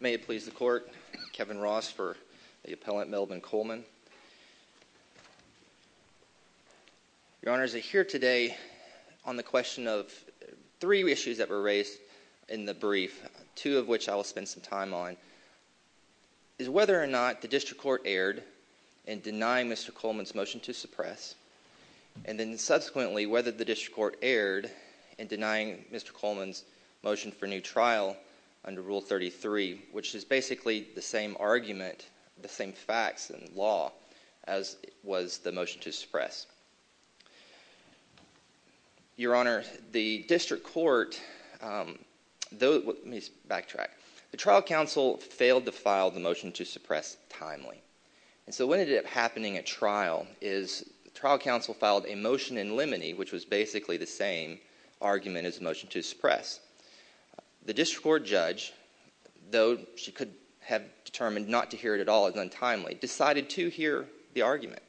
May it please the Court, Kevin Ross for the Appellant, Melvin Coleman. Your Honors, I'm here today on the question of three issues that were raised in the brief, two of which I will spend some time on, is whether or not the District Court erred in denying Mr. Coleman's motion to suppress, and then subsequently whether the District Court erred in denying Mr. Coleman's motion for new trial under Rule 33, which is basically the same argument, the same facts and law as was the motion to suppress. Your Honor, the District Court, let me backtrack, the Trial Counsel failed to file the motion to suppress timely, and so what ended up happening at trial is the Trial Counsel filed a motion in limine, which was basically the same argument as the motion to suppress. The District Court judge, though she could have determined not to hear it at all as untimely, decided to hear the argument,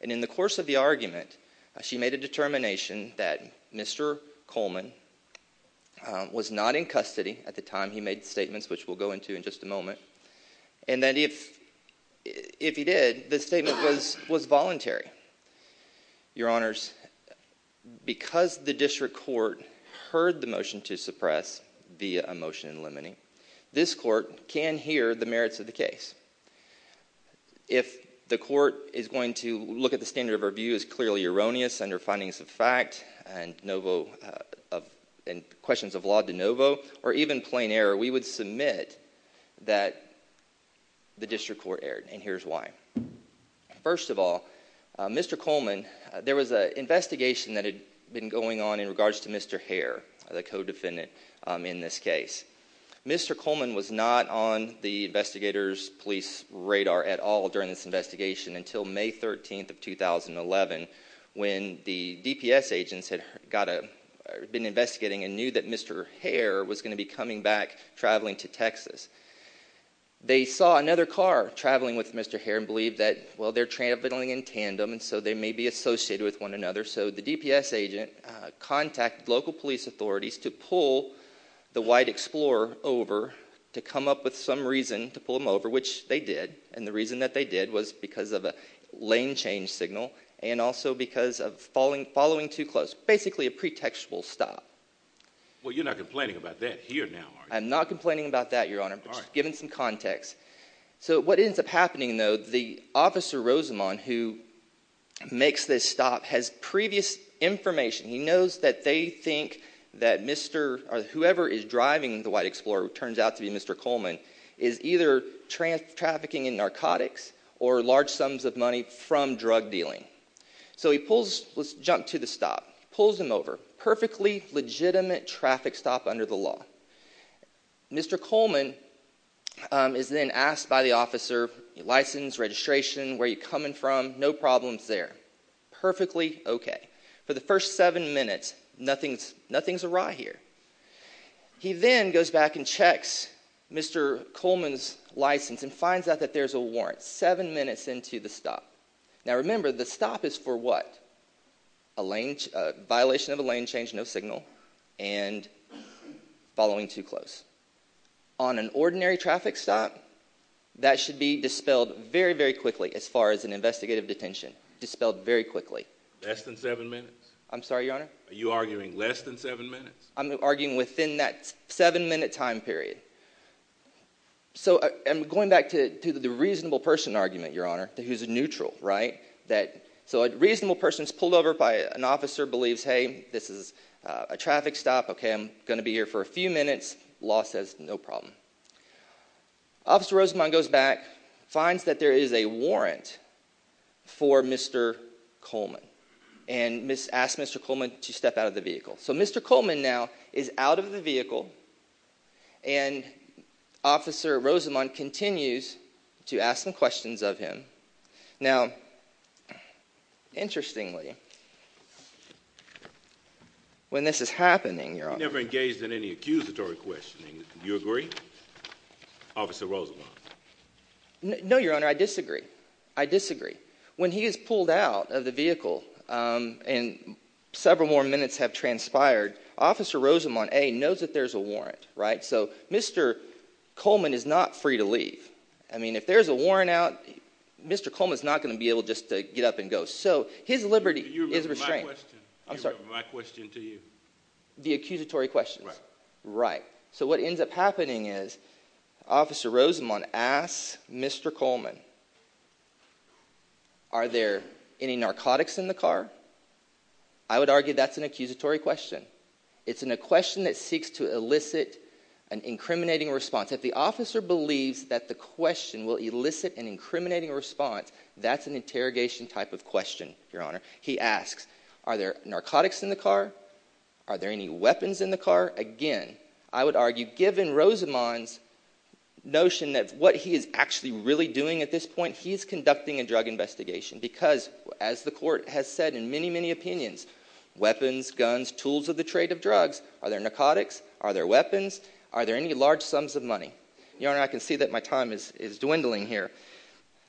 and in the course of the argument, she made a determination that Mr. Coleman was not in custody at the time he made the statements, which we'll go into in just a moment, and that if he did, the statement was voluntary. Your Honors, because the District Court heard the motion to suppress via a motion in limine, this Court can hear the merits of the case. If the Court is going to look at the standard of review as clearly erroneous under findings of fact and questions of law de novo, or even plain error, we would submit that the District Court erred, and here's why. First of all, Mr. Coleman, there was an investigation that had been going on in regards to Mr. Hare, the co-defendant in this case. Mr. Coleman was not on the investigators' police radar at all during this investigation until May 13th of 2011, when the DPS agents had been investigating and knew that Mr. Hare was going to be coming back, traveling to Texas. They saw another car traveling with Mr. Hare and believed that, well, they're traveling in tandem, and so they may be associated with one another, so the DPS agent contacted local police authorities to pull the white Explorer over to come up with some reason to pull him over, which they did, and the reason that they did was because of a lane change signal and also because of following too close. Basically a pretextual stop. Well, you're not complaining about that here now, are you? I'm not complaining about that, Your Honor, but just giving some context. So what ends up happening, though, the officer, Rosamond, who makes this stop, has previous information. He knows that they think that whoever is driving the white Explorer, who turns out to be Mr. Coleman, is either trafficking in narcotics or large sums of money from drug dealing. So he pulls, let's jump to the stop, pulls him over. Perfectly legitimate traffic stop under the law. Mr. Coleman is then asked by the officer, license, registration, where are you coming from, no problems there. Perfectly okay. For the first seven minutes, nothing's awry here. He then goes back and checks Mr. Coleman's license and finds out that there's a warrant seven minutes into the stop. Now remember, the stop is for what? A violation of a lane change, no signal, and following too close. On an ordinary traffic stop, that should be dispelled very, very quickly as far as an investigative detention. Dispelled very quickly. Less than seven minutes? I'm sorry, your honor? Are you arguing less than seven minutes? I'm arguing within that seven minute time period. So I'm going back to the reasonable person argument, your honor, who's neutral, right? So a reasonable person is pulled over by an officer, believes, hey, this is a traffic stop, okay, I'm going to be here for a few minutes, law says no problem. Officer Rosamond goes back, finds that there is a warrant for Mr. Coleman, and asks Mr. Coleman to step out of the vehicle. So Mr. Coleman now is out of the vehicle, and Officer Rosamond continues to ask some questions of him. Now, interestingly, when this is happening, your honor- Officer Rosamond. No, your honor, I disagree. I disagree. When he is pulled out of the vehicle, and several more minutes have transpired, Officer Rosamond, A, knows that there's a warrant, right? So Mr. Coleman is not free to leave. I mean, if there's a warrant out, Mr. Coleman's not going to be able just to get up and go. So his liberty is restrained. Do you remember my question? I'm sorry. Do you remember my question to you? The accusatory questions? Right. Right. So what ends up happening is, Officer Rosamond asks Mr. Coleman, are there any narcotics in the car? I would argue that's an accusatory question. It's a question that seeks to elicit an incriminating response. If the officer believes that the question will elicit an incriminating response, that's an interrogation type of question, your honor. He asks, are there narcotics in the car? Are there any weapons in the car? Again, I would argue, given Rosamond's notion that what he is actually really doing at this point, he's conducting a drug investigation because, as the court has said in many, many opinions, weapons, guns, tools of the trade of drugs, are there narcotics? Are there weapons? Are there any large sums of money? Your honor, I can see that my time is dwindling here.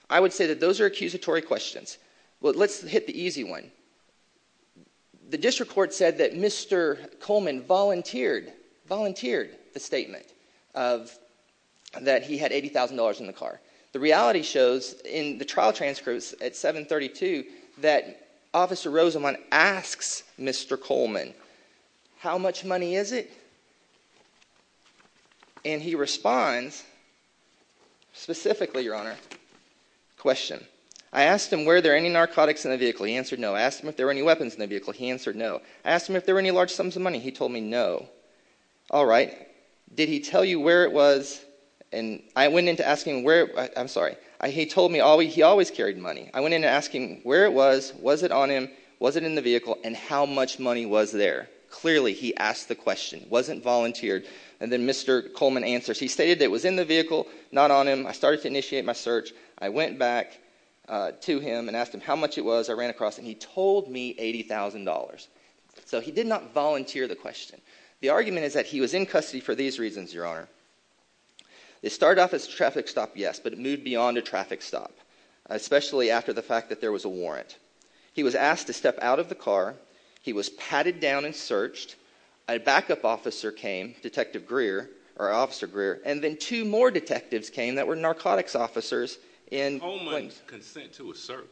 I would say that those are accusatory questions. Let's hit the easy one. The district court said that Mr. Coleman volunteered the statement that he had $80,000 in the car. The reality shows in the trial transcripts at 732 that Officer Rosamond asks Mr. Coleman, how much money is it? And he responds specifically, your honor, question, I asked him, were there any narcotics in the vehicle? He answered no. I asked him if there were any weapons in the vehicle? He answered no. I asked him if there were any large sums of money? He told me no. All right. Did he tell you where it was? And I went into asking where, I'm sorry, he told me he always carried money. I went into asking where it was, was it on him, was it in the vehicle, and how much money was there? Clearly, he asked the question, wasn't volunteered, and then Mr. Coleman answers. He stated that it was in the vehicle, not on him. I started to initiate my search. I went back to him and asked him how much it was. I ran across it and he told me $80,000. So he did not volunteer the question. The argument is that he was in custody for these reasons, your honor. It started off as a traffic stop, yes, but it moved beyond a traffic stop, especially after the fact that there was a warrant. He was asked to step out of the car. He was patted down and searched. A backup officer came, Detective Greer, or Officer Greer, and then two more detectives came that were narcotics officers and Coleman's consent to a search.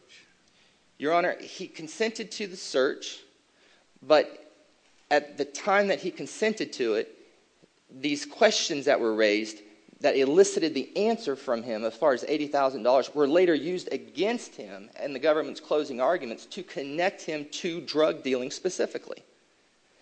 Your honor, he consented to the search, but at the time that he consented to it, these questions that were raised that elicited the answer from him as far as $80,000 were later used against him and the government's closing arguments to connect him to drug dealing specifically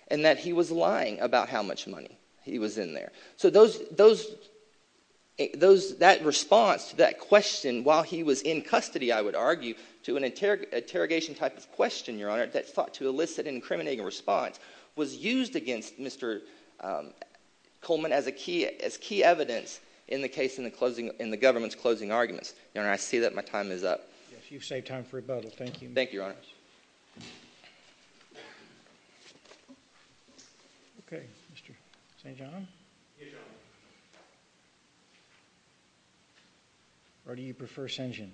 and that he was lying about how much money he was in there. So that response, that question, while he was in custody, I would argue, to an interrogation type of question, your honor, that's thought to elicit an incriminating response, was used against Mr. Coleman as key evidence in the case in the government's closing arguments. Your honor, I see that my time is up. You've saved time for rebuttal. Thank you. Thank you, your honor. Thank you, guys. Okay, Mr. St. John? Yes, your honor. Or do you prefer St. John?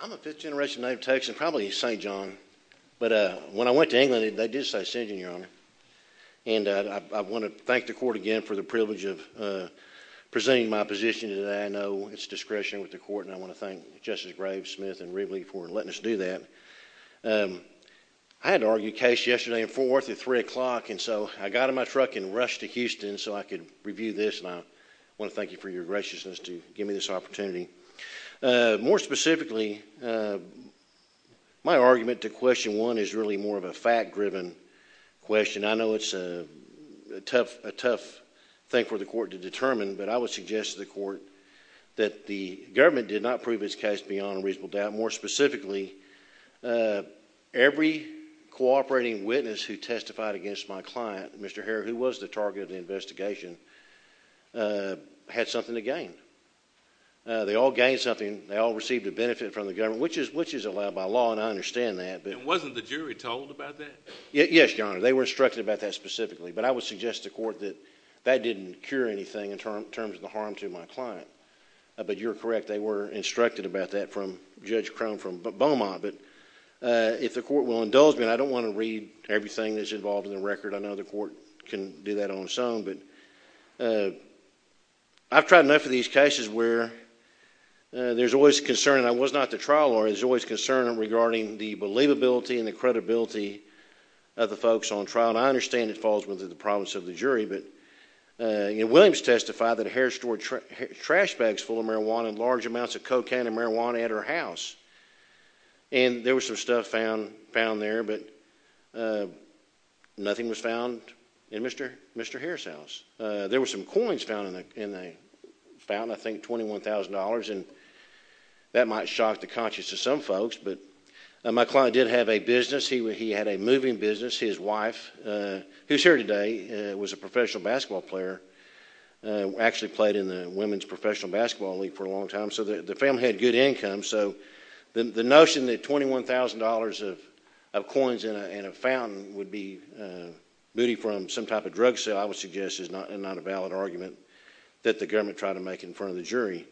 I'm a fifth generation native Texan, probably St. John, but when I went to England, they did say St. John, your honor, and I want to thank the court again for the privilege of presenting my position today. I know it's discretion with the court, and I want to thank Justice Graves, Smith, and others who do that. I had to argue a case yesterday in Fort Worth at 3 o'clock, and so I got in my truck and rushed to Houston so I could review this, and I want to thank you for your graciousness to give me this opportunity. More specifically, my argument to question one is really more of a fact-driven question. I know it's a tough thing for the court to determine, but I would suggest to the court that the government did not prove its case beyond reasonable doubt. More specifically, every cooperating witness who testified against my client, Mr. Herr, who was the target of the investigation, had something to gain. They all gained something. They all received a benefit from the government, which is allowed by law, and I understand that. And wasn't the jury told about that? Yes, your honor. They were instructed about that specifically, but I would suggest to the court that that didn't cure anything in terms of the harm to my client, but you're correct. They were instructed about that from Judge Crone from Beaumont, but if the court will indulge me, and I don't want to read everything that's involved in the record. I know the court can do that on its own, but I've tried enough of these cases where there's always concern, and I was not the trial lawyer, there's always concern regarding the believability and the credibility of the folks on trial, and I understand it falls within the province of the jury, but Williams testified that Herr stored trash bags full of marijuana in large amounts of cocaine and marijuana at her house, and there was some stuff found there, but nothing was found in Mr. Herr's house. There were some coins found in the fountain, I think $21,000, and that might shock the conscience of some folks, but my client did have a business. He had a moving business. His wife, who's here today, was a professional basketball player, actually played in the team, so the family had good income, so the notion that $21,000 of coins in a fountain would be booty from some type of drug sale I would suggest is not a valid argument that the government tried to make in front of the jury.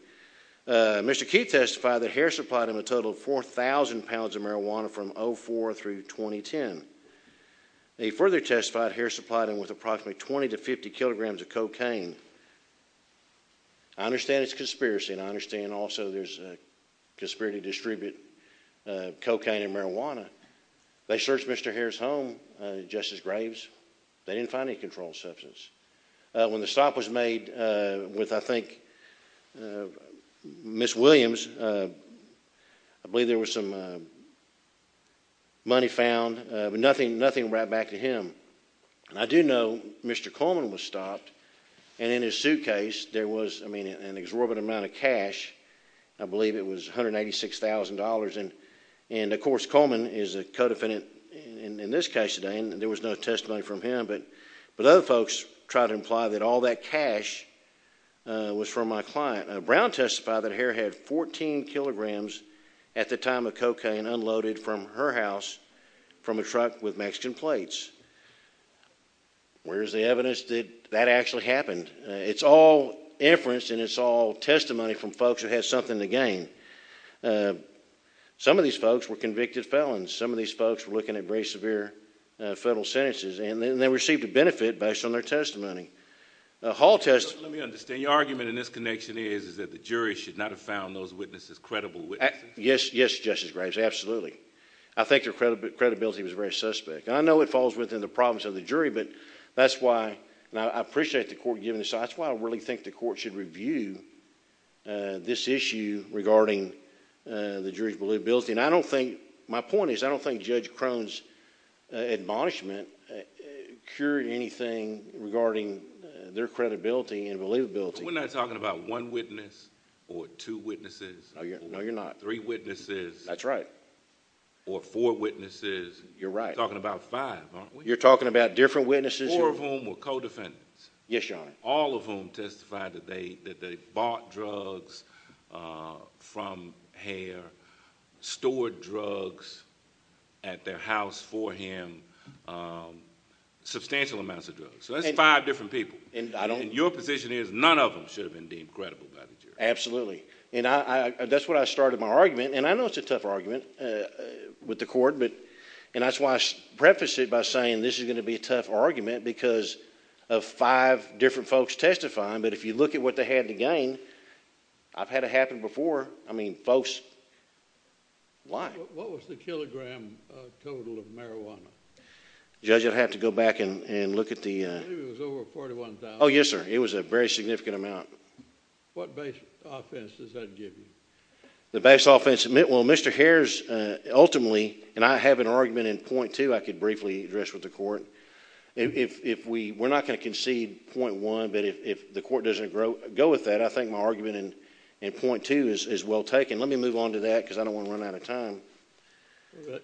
Mr. Keith testified that Herr supplied him a total of 4,000 pounds of marijuana from 2004 through 2010, and he further testified Herr supplied him with approximately 20 to 50 kilograms of cocaine. I understand it's a conspiracy, and I understand also there's a conspiracy to distribute cocaine and marijuana. They searched Mr. Herr's home, Justice Graves. They didn't find any controlled substance. When the stop was made with, I think, Ms. Williams, I believe there was some money found, but nothing right back to him. I do know Mr. Coleman was stopped, and in his suitcase there was an exorbitant amount of cash. I believe it was $186,000, and of course Coleman is a co-defendant in this case today, and there was no testimony from him, but other folks tried to imply that all that cash was from my client. Brown testified that Herr had 14 kilograms at the time of cocaine unloaded from her house from a truck with Mexican plates. Where is the evidence that that actually happened? It's all inference, and it's all testimony from folks who had something to gain. Some of these folks were convicted felons. Some of these folks were looking at very severe federal sentences, and they received a benefit based on their testimony. Hall testified— Let me understand. Your argument in this connection is that the jury should not have found those witnesses credible witnesses? Yes. Yes, Justice Graves, absolutely. I think their credibility was very suspect. I know it falls within the province of the jury, but that's why, and I appreciate the court giving this, that's why I really think the court should review this issue regarding the jury's believability. I don't think... my point is I don't think Judge Crone's admonishment cured anything regarding their credibility and believability. We're not talking about one witness or two witnesses? No, you're not. Three witnesses? That's right. That's right. Or four witnesses? You're right. We're talking about five, aren't we? You're talking about different witnesses who... Four of whom were co-defendants. Yes, Your Honor. All of whom testified that they bought drugs from Heer, stored drugs at their house for him, substantial amounts of drugs. So that's five different people. And I don't... And your position is none of them should have been deemed credible by the jury? Absolutely. And that's where I started my argument. And I know it's a tough argument with the court, but... and that's why I prefaced it by saying this is going to be a tough argument because of five different folks testifying. But if you look at what they had to gain, I've had it happen before. I mean, folks... why? What was the kilogram total of marijuana? Judge, you'll have to go back and look at the... I believe it was over $41,000. Oh, yes, sir. It was a very significant amount. What base offense does that give you? The base offense... well, Mr. Heer's ultimately... and I have an argument in point two I could briefly address with the court. If we... we're not going to concede point one, but if the court doesn't go with that, I think my argument in point two is well taken. Let me move on to that because I don't want to run out of time.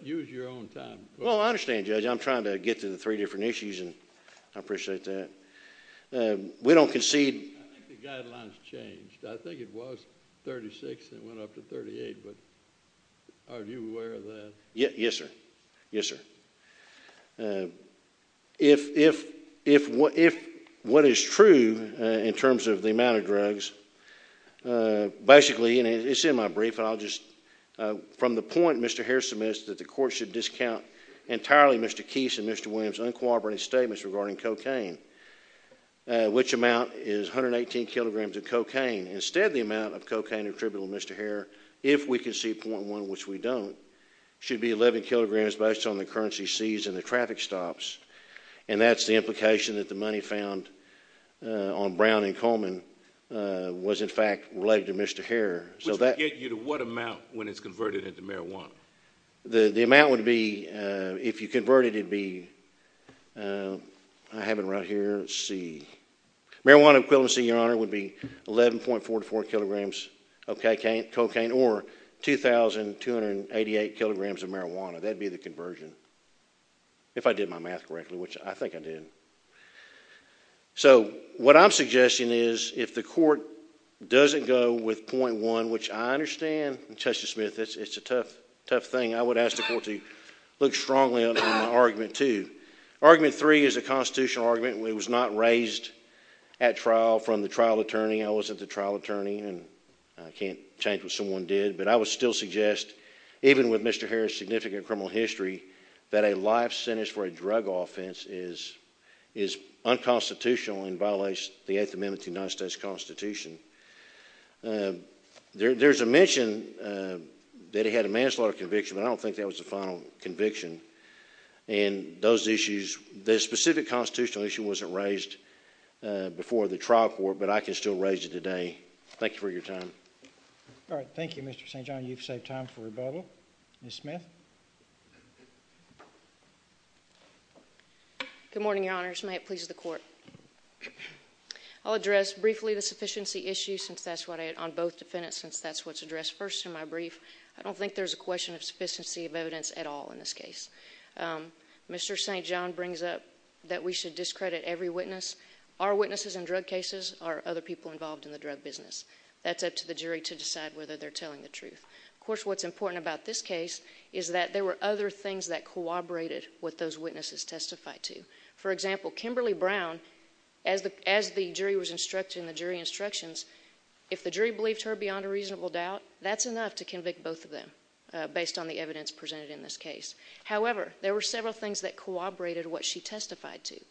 Use your own time. Well, I understand, Judge. I'm trying to get to the three different issues and I appreciate that. We don't concede... I think the guidelines changed. I think it was $36,000 and it went up to $38,000, but are you aware of that? Yes, sir. Yes, sir. If... if... if... what is true in terms of the amount of drugs, basically... it's in my brief and I'll just... from the point Mr. Heer submits that the court should discount entirely Mr. Keith's and Mr. Williams' uncooperative statements regarding cocaine, which amount is 118 kilograms of cocaine. Instead, the amount of cocaine attributable to Mr. Heer, if we concede point one, which we don't, should be 11 kilograms based on the currency seized and the traffic stops and that's the implication that the money found on Brown and Coleman was in fact related to Mr. Heer. Which would get you to what amount when it's converted into marijuana? The amount would be... if you convert it, it would be... I have it right here. Let's see. Marijuana equivalency, Your Honor, would be 11.44 kilograms of cocaine or 2,288 kilograms of marijuana. That would be the conversion. If I did my math correctly, which I think I did. So what I'm suggesting is if the court doesn't go with point one, which I understand, Justice is a tough, tough thing, I would ask the court to look strongly on argument two. Argument three is a constitutional argument and it was not raised at trial from the trial attorney. I wasn't the trial attorney and I can't change what someone did, but I would still suggest even with Mr. Heer's significant criminal history, that a life sentence for a drug offense is unconstitutional and violates the Eighth Amendment to the United States Constitution. There's a mention that he had a manslaughter conviction, but I don't think that was the final conviction. And those issues... the specific constitutional issue wasn't raised before the trial court, but I can still raise it today. Thank you for your time. All right. Thank you, Mr. St. John. You've saved time for rebuttal. Ms. Smith? Good morning, Your Honors. May it please the Court. I'll address briefly the sufficiency issue on both defendants, since that's what's addressed first in my brief. I don't think there's a question of sufficiency of evidence at all in this case. Mr. St. John brings up that we should discredit every witness. Our witnesses in drug cases are other people involved in the drug business. That's up to the jury to decide whether they're telling the truth. Of course, what's important about this case is that there were other things that corroborated with those witnesses testified to. For example, Kimberly Brown, as the jury was instructed in the jury instructions, if the jury believed her beyond a reasonable doubt, that's enough to convict both of them, based on the evidence presented in this case. However, there were several things that corroborated what she testified to.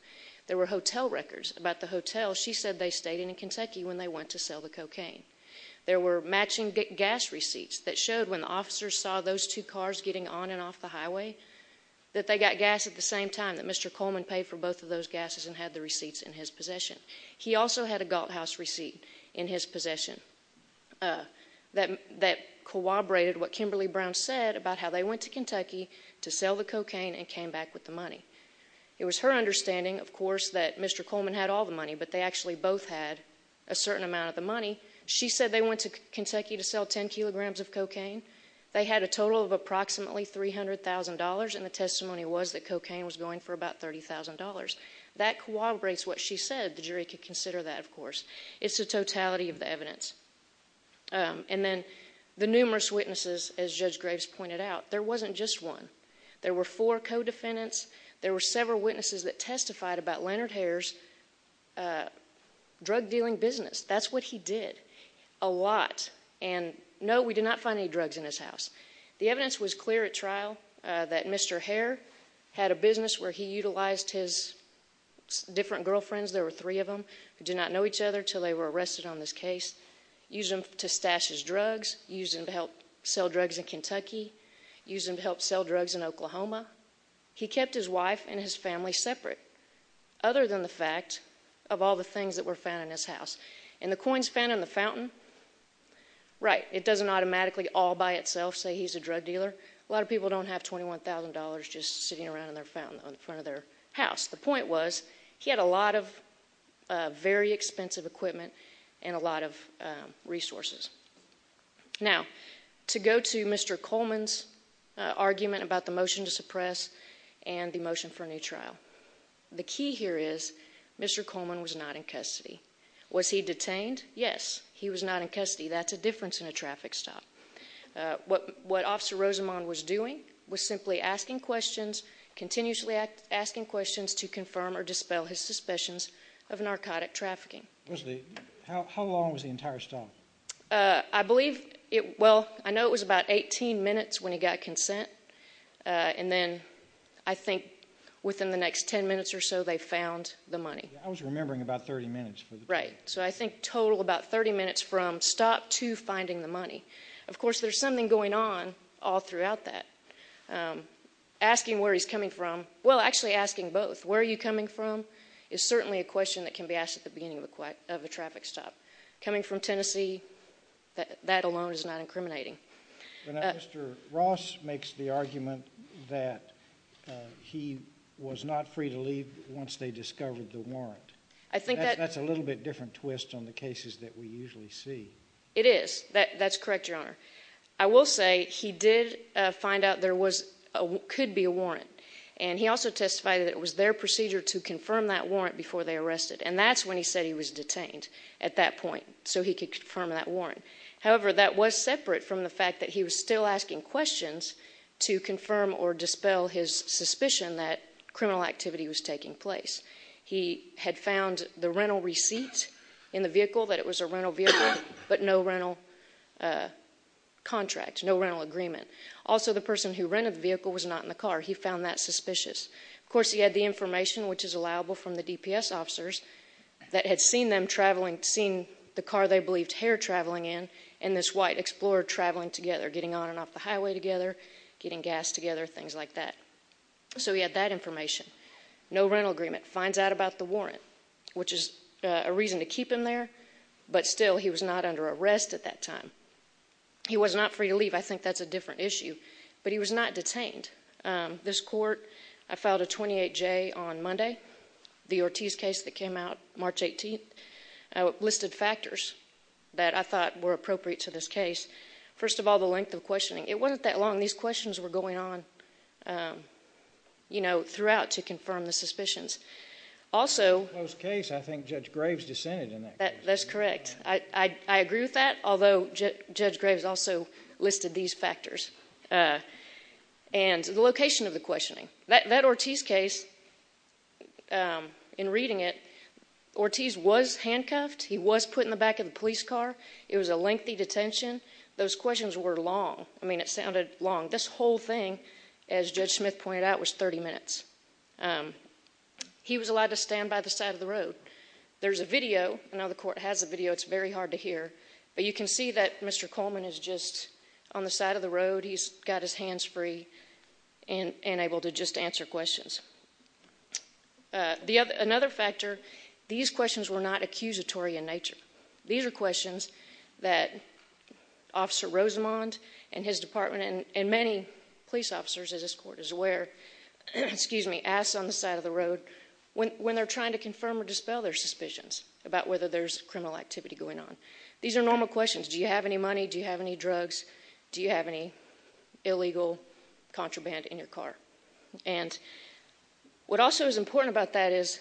There were hotel records about the hotel she said they stayed in in Kentucky when they went to sell the cocaine. There were matching gas receipts that showed when the officers saw those two cars getting on and off the highway that they got gas at the same time, that Mr. Coleman paid for both of those gases and had the receipts in his possession. He also had a Galt House receipt in his possession that corroborated what Kimberly Brown said about how they went to Kentucky to sell the cocaine and came back with the money. It was her understanding, of course, that Mr. Coleman had all the money, but they actually both had a certain amount of the money. She said they went to Kentucky to sell 10 kilograms of cocaine. They had a total of approximately $300,000, and the testimony was that cocaine was going for about $30,000. That corroborates what she said. The jury could consider that, of course. It's the totality of the evidence. And then the numerous witnesses, as Judge Graves pointed out, there wasn't just one. There were four co-defendants. There were several witnesses that testified about Leonard Hare's drug dealing business. That's what he did. A lot. And no, we did not find any drugs in his house. The evidence was clear at trial that Mr. Hare had a business where he utilized his different girlfriends, there were three of them, who did not know each other until they were arrested on this case, used them to stash his drugs, used them to help sell drugs in Kentucky, used them to help sell drugs in Oklahoma. He kept his wife and his family separate, other than the fact of all the things that were found in his house. And the coins found in the fountain, right, it doesn't automatically all by itself say he's a drug dealer. A lot of people don't have $21,000 just sitting around in their fountain in front of their house. The point was, he had a lot of very expensive equipment and a lot of resources. Now, to go to Mr. Coleman's argument about the motion to suppress and the motion for a new trial. The key here is, Mr. Coleman was not in custody. Was he detained? Yes. He was not in custody. That's a difference in a traffic stop. What Officer Rosamond was doing was simply asking questions, continuously asking questions to confirm or dispel his suspicions of narcotic trafficking. Wesley, how long was the entire stop? I believe, well, I know it was about 18 minutes when he got consent, and then I think within the next 10 minutes or so they found the money. I was remembering about 30 minutes. Right. So I think total about 30 minutes from stop to finding the money. Of course, there's something going on all throughout that. Asking where he's coming from, well, actually asking both. Where are you coming from is certainly a question that can be asked at the beginning of a traffic stop. Coming from Tennessee, that alone is not incriminating. Mr. Ross makes the argument that he was not free to leave once they discovered the warrant. I think that's a little bit different twist on the cases that we usually see. It is. That's correct, Your Honor. I will say he did find out there could be a warrant, and he also testified that it was their procedure to confirm that warrant before they arrested. And that's when he said he was detained, at that point, so he could confirm that warrant. However, that was separate from the fact that he was still asking questions to confirm or dispel his suspicion that criminal activity was taking place. He had found the rental receipt in the vehicle, that it was a rental vehicle, but no rental contract, no rental agreement. Also, the person who rented the vehicle was not in the car. He found that suspicious. Of course, he had the information, which is allowable from the DPS officers, that had seen them traveling, seen the car they believed Hare traveling in and this white Explorer traveling together, getting on and off the highway together, getting gas together, things like that. So, he had that information. No rental agreement. Finds out about the warrant, which is a reason to keep him there, but still, he was not under arrest at that time. He was not free to leave. I think that's a different issue, but he was not detained. And this court, I filed a 28-J on Monday. The Ortiz case that came out March 18th, I listed factors that I thought were appropriate to this case. First of all, the length of questioning. It wasn't that long. These questions were going on, you know, throughout to confirm the suspicions. Also Close case. I think Judge Graves dissented in that case. That's correct. I agree with that, although Judge Graves also listed these factors. And the location of the questioning. That Ortiz case, in reading it, Ortiz was handcuffed. He was put in the back of the police car. It was a lengthy detention. Those questions were long. I mean, it sounded long. This whole thing, as Judge Smith pointed out, was 30 minutes. He was allowed to stand by the side of the road. There's a video. I know the court has a video. It's very hard to hear. But you can see that Mr. Coleman is just on the side of the road. He's got his hands free and able to just answer questions. Another factor, these questions were not accusatory in nature. These are questions that Officer Rosamond and his department and many police officers, as this court is aware, ask on the side of the road. When they're trying to confirm or dispel their suspicions about whether there's criminal activity going on. These are normal questions. Do you have any money? Do you have any drugs? Do you have any illegal contraband in your car? And what also is important about that is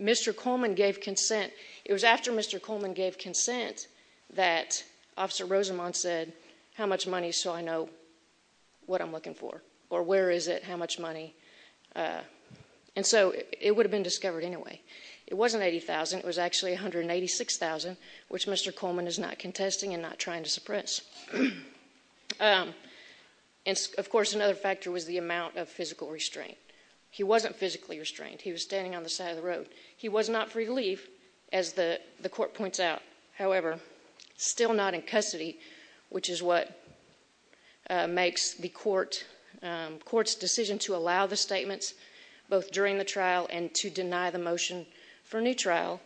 Mr. Coleman gave consent. It was after Mr. Coleman gave consent that Officer Rosamond said, how much money so I know what I'm looking for? Or where is it? How much money? And so it would have been discovered anyway. It wasn't $80,000. It was actually $186,000, which Mr. Coleman is not contesting and not trying to suppress. Of course, another factor was the amount of physical restraint. He wasn't physically restrained. He was standing on the side of the road. He was not free to leave, as the court points out. However, still not in custody, which is what makes the court's decision to allow the statements both during the trial and to deny the motion for a new trial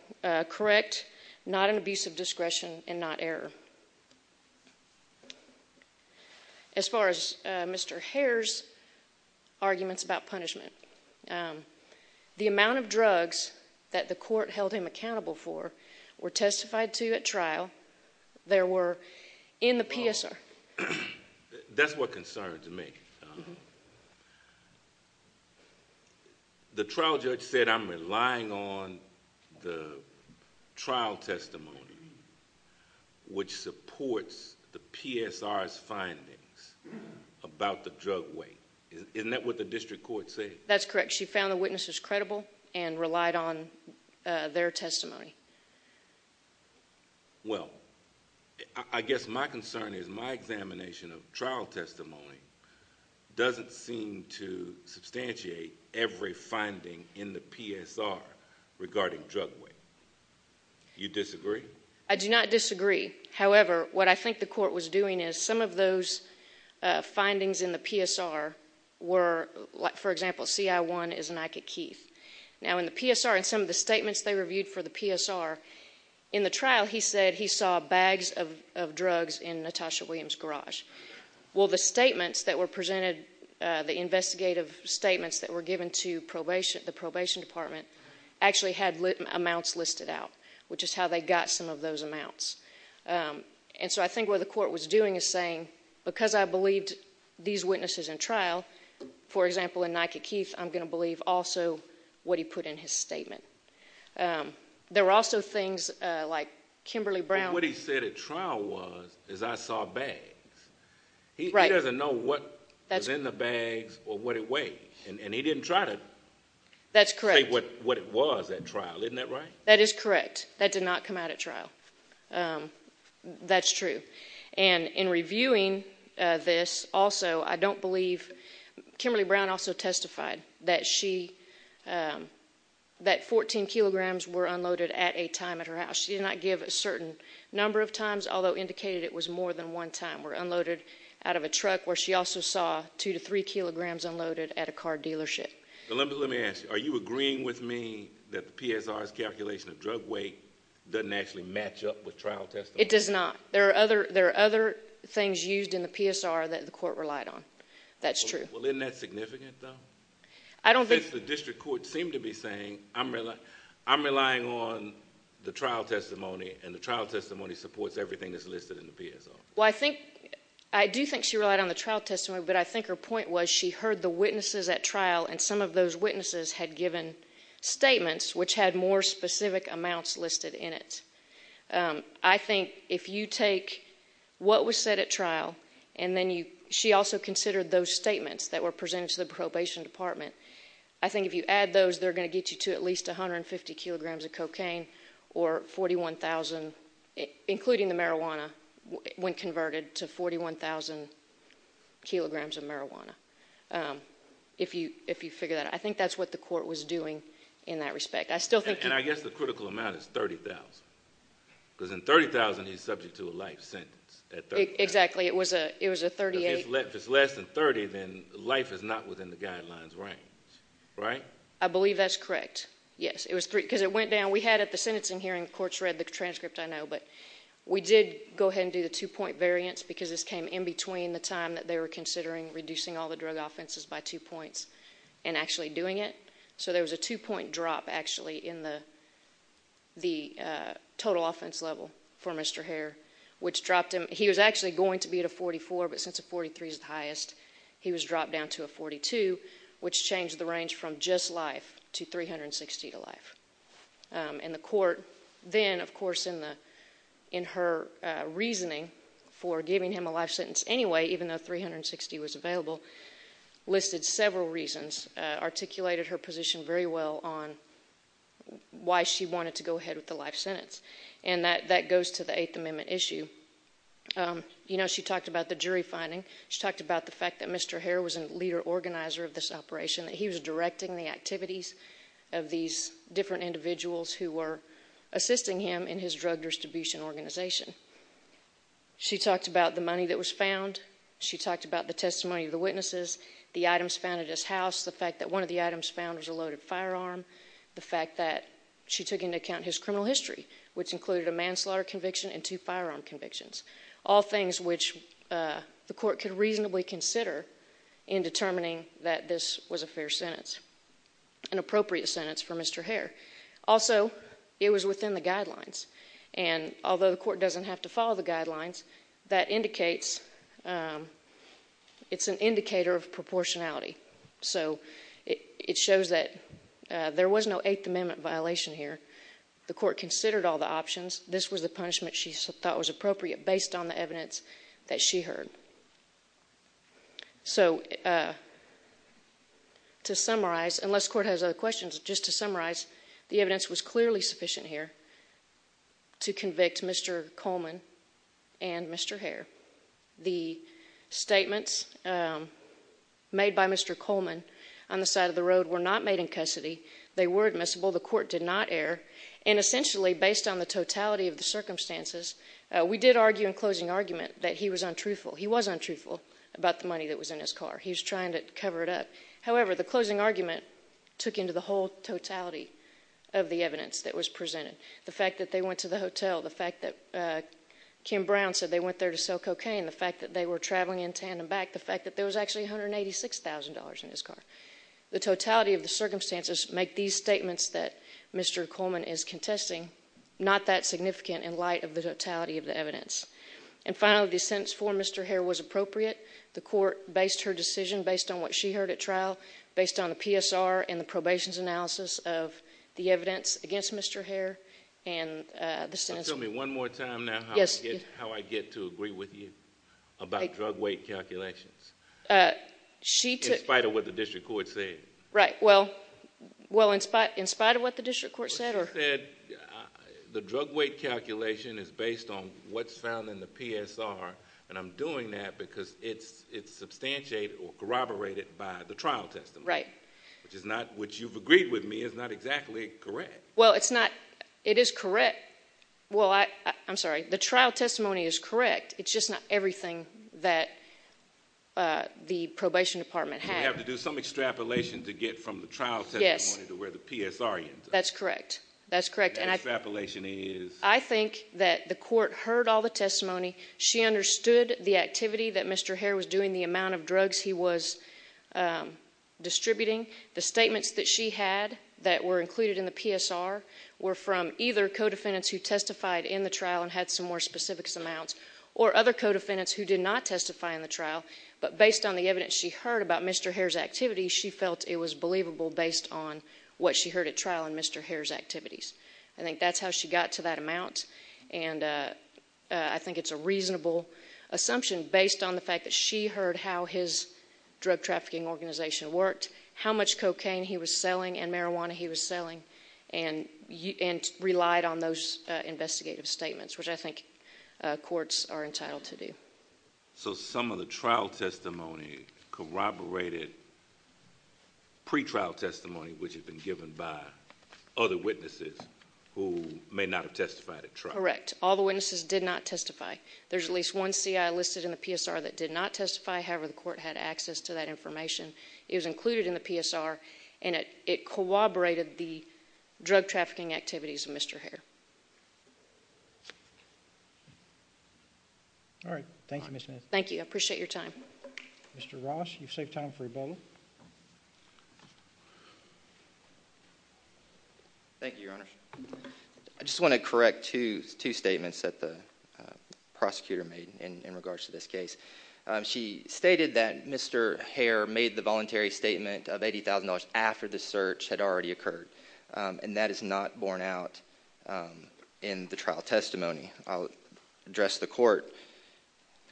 correct, not an abuse of discretion and not error. As far as Mr. Hare's arguments about punishment, the amount of drugs that the court held him for the trial, there were in the PSR. That's what concerns me. The trial judge said I'm relying on the trial testimony, which supports the PSR's findings about the drug weight. Isn't that what the district court said? That's correct. She found the witnesses credible and relied on their testimony. Well, I guess my concern is my examination of trial testimony doesn't seem to substantiate every finding in the PSR regarding drug weight. You disagree? I do not disagree. However, what I think the court was doing is some of those findings in the PSR were, for example, CI1 is an Ike Keith. Now in the PSR, in some of the statements they reviewed for the PSR, in the trial he said he saw bags of drugs in Natasha Williams' garage. Well, the statements that were presented, the investigative statements that were given to the probation department actually had amounts listed out, which is how they got some of those amounts. And so I think what the court was doing is saying, because I believed these witnesses in trial, for example, in Ike Keith, I'm going to believe also what he put in his statement. There were also things like Kimberly Brown. What he said at trial was, is I saw bags. He doesn't know what was in the bags or what it weighed, and he didn't try to say what it was at trial. Isn't that right? That is correct. That did not come out at trial. That's true. And in reviewing this also, I don't believe, Kimberly Brown also testified that she, that 14 kilograms were unloaded at a time at her house. She did not give a certain number of times, although indicated it was more than one time were unloaded out of a truck, where she also saw two to three kilograms unloaded at a car dealership. Let me ask you, are you agreeing with me that the PSR's calculation of drug weight doesn't actually match up with trial testimony? It does not. There are other, there are other things used in the PSR that the court relied on. That's true. Well, isn't that significant though? I don't think. The district court seemed to be saying, I'm relying on the trial testimony, and the trial testimony supports everything that's listed in the PSR. Well, I think, I do think she relied on the trial testimony, but I think her point was she heard the witnesses at trial, and some of those witnesses had given statements which had more specific amounts listed in it. I think if you take what was said at trial, and then you, she also considered those statements that were presented to the probation department. I think if you add those, they're going to get you to at least 150 kilograms of cocaine, or 41,000, including the marijuana, when converted to 41,000 kilograms of marijuana. If you, if you figure that out. I think that's what the court was doing in that respect. I still think. And I guess the critical amount is 30,000, because in 30,000 he's subject to a life sentence. Exactly. It was a, it was a 38. If it's less than 30, then life is not within the guidelines range, right? I believe that's correct. Yes. It was three, because it went down. We had at the sentencing hearing, the courts read the transcript, I know, but we did go ahead and do the two point variance, because this came in between the time that they were considering reducing all the drug offenses by two points, and actually doing it. So there was a two point drop, actually, in the, the total offense level for Mr. Hare, which dropped him. He was actually going to be at a 44, but since a 43 is the highest, he was dropped down to a 42, which changed the range from just life to 360 to life. And the court then, of course, in the, in her reasoning for giving him a life sentence anyway, even though 360 was available, listed several reasons, articulated her position very well on why she wanted to go ahead with the life sentence. And that, that goes to the Eighth Amendment issue. You know, she talked about the jury finding, she talked about the fact that Mr. Hare was a leader organizer of this operation, that he was directing the activities of these different individuals who were assisting him in his drug distribution organization. She talked about the money that was found. She talked about the testimony of the witnesses, the items found at his house, the fact that one of the items found was a loaded firearm, the fact that she took into account his criminal history, which included a manslaughter conviction and two firearm convictions, all things which the court could reasonably consider in determining that this was a fair sentence, an appropriate sentence for Mr. Hare. Also, it was within the guidelines. And although the court doesn't have to follow the guidelines, that indicates, it's an indicator of proportionality. So it shows that there was no Eighth Amendment violation here. The court considered all the options. This was the punishment she thought was appropriate based on the evidence that she heard. So, to summarize, unless the court has other questions, just to summarize, the evidence was clearly sufficient here to convict Mr. Coleman and Mr. Hare. The statements made by Mr. Coleman on the side of the road were not made in custody. They were admissible. The court did not err. And essentially, based on the totality of the circumstances, we did argue in closing argument that he was untruthful. He was untruthful about the money that was in his car. He was trying to cover it up. However, the closing argument took into the whole totality of the evidence that was presented. The fact that they went to the hotel, the fact that Kim Brown said they went there to sell cocaine, the fact that they were traveling in tandem back, the fact that there was actually $186,000 in his car. The totality of the circumstances make these statements that Mr. Coleman is contesting not that significant in light of the totality of the evidence. And finally, the sentence for Mr. Hare was appropriate. The court based her decision based on what she heard at trial, based on the PSR and the probation's analysis of the evidence against Mr. Hare. And the sentence- Now tell me one more time now how I get to agree with you about drug weight calculations. She took- In spite of what the district court said. Right. Well, in spite of what the district court said or- The district court said the drug weight calculation is based on what's found in the PSR and I'm doing that because it's substantiated or corroborated by the trial testimony. Right. Which is not, which you've agreed with me is not exactly correct. Well it's not, it is correct, well I, I'm sorry, the trial testimony is correct, it's just not everything that the probation department had. You have to do some extrapolation to get from the trial testimony to where the PSR ends up. That's correct. That's correct. And I- Extrapolation is- I think that the court heard all the testimony, she understood the activity that Mr. Hare was doing, the amount of drugs he was distributing, the statements that she had that were included in the PSR were from either co-defendants who testified in the trial and had some more specific amounts or other co-defendants who did not testify in the trial. But based on the evidence she heard about Mr. Hare's activity, she felt it was believable based on what she heard at trial in Mr. Hare's activities. I think that's how she got to that amount and I think it's a reasonable assumption based on the fact that she heard how his drug trafficking organization worked, how much cocaine he was selling and marijuana he was selling and relied on those investigative statements, which I think courts are entitled to do. So some of the trial testimony corroborated pre-trial testimony which had been given by other witnesses who may not have testified at trial? Correct. All the witnesses did not testify. There's at least one CI listed in the PSR that did not testify, however, the court had access to that information. It was included in the PSR and it corroborated the drug trafficking activities of Mr. Hare. Thank you, Ms. Smith. Thank you. I appreciate your time. Mr. Ross, you've saved time for a bulletin. Thank you, Your Honor. I just want to correct two statements that the prosecutor made in regards to this case. She stated that Mr. Hare made the voluntary statement of $80,000 after the search had already occurred. And that is not borne out in the trial testimony. I'll address the court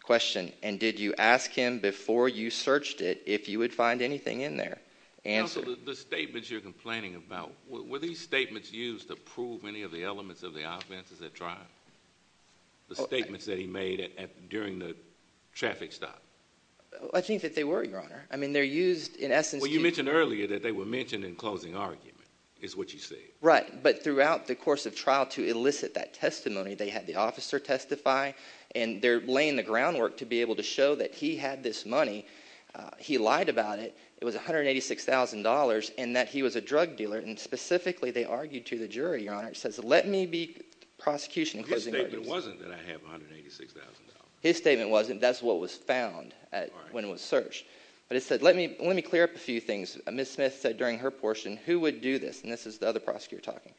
question. And did you ask him before you searched it if you would find anything in there? Counsel, the statements you're complaining about, were these statements used to prove any of the elements of the offenses at trial? The statements that he made during the traffic stop? I think that they were, Your Honor. I mean, they're used in essence to- Is what you say. Right. But throughout the course of trial, to elicit that testimony, they had the officer testify and they're laying the groundwork to be able to show that he had this money. He lied about it. It was $186,000 and that he was a drug dealer. And specifically, they argued to the jury, Your Honor, it says, let me be prosecution in closing- His statement wasn't that I have $186,000. His statement wasn't. That's what was found when it was searched. But it said, let me clear up a few things. Ms. Smith said during her portion, who would do this? And this is the other prosecutor talking.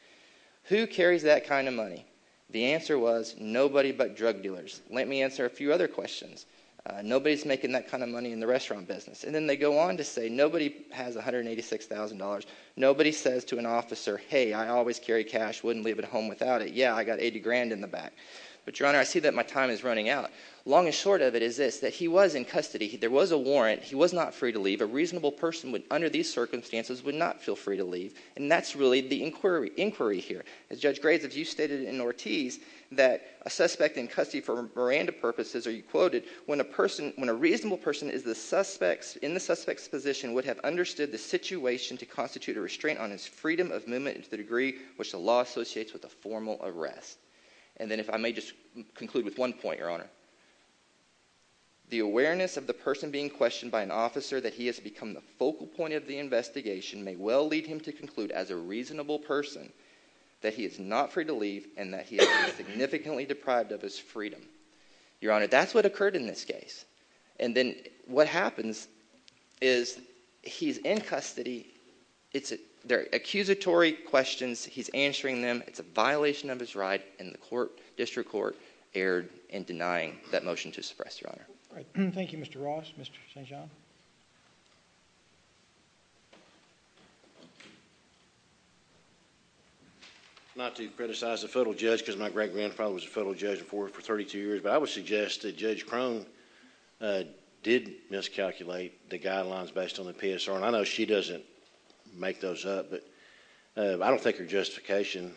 Who carries that kind of money? The answer was, nobody but drug dealers. Let me answer a few other questions. Nobody's making that kind of money in the restaurant business. And then they go on to say, nobody has $186,000. Nobody says to an officer, hey, I always carry cash, wouldn't leave it home without it. Yeah, I got 80 grand in the back. But, Your Honor, I see that my time is running out. Long and short of it is this, that he was in custody. There was a warrant. He was not free to leave. A reasonable person, under these circumstances, would not feel free to leave. And that's really the inquiry here. As Judge Graves, as you stated in Ortiz, that a suspect in custody for Miranda purposes, or you quoted, when a reasonable person is in the suspect's position, would have understood the situation to constitute a restraint on his freedom of movement to the degree which the law associates with a formal arrest. And then if I may just conclude with one point, Your Honor. The awareness of the person being questioned by an officer that he has become the focal point of the investigation may well lead him to conclude, as a reasonable person, that he is not free to leave and that he has been significantly deprived of his freedom. Your Honor, that's what occurred in this case. And then what happens is he's in custody, they're accusatory questions, he's answering them, it's a violation of his right, and the District Court erred in denying that motion to suppress. Your Honor. Thank you, Mr. Ross. Mr. St. John? Not to criticize the federal judge, because my great-grandfather was a federal judge before for 32 years, but I would suggest that Judge Crone did miscalculate the guidelines based on the PSR. And I know she doesn't make those up, but I don't think her justification,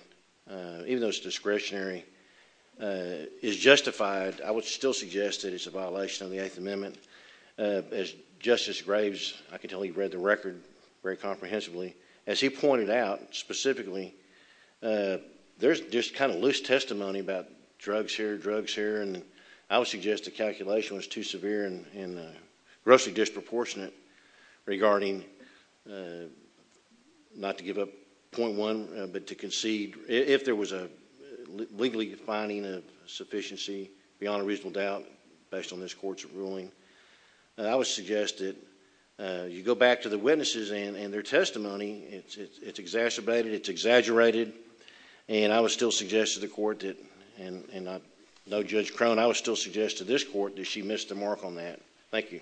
even though it's discretionary, is justified. I would still suggest that it's a violation of the Eighth Amendment. As Justice Graves, I can tell you read the record very comprehensively. As he pointed out specifically, there's just kind of loose testimony about drugs here, drugs here. And I would suggest the calculation was too severe and grossly disproportionate regarding, not to give up point one, but to concede, if there was a legally defining of sufficiency, beyond a reasonable doubt, based on this Court's ruling. I would suggest that you go back to the witnesses and their testimony. It's exacerbated, it's exaggerated. And I would still suggest to the Court that, and I know Judge Crone, I would still suggest to this Court that she missed the mark on that. Thank you.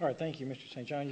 All right, thank you, Mr. St. John.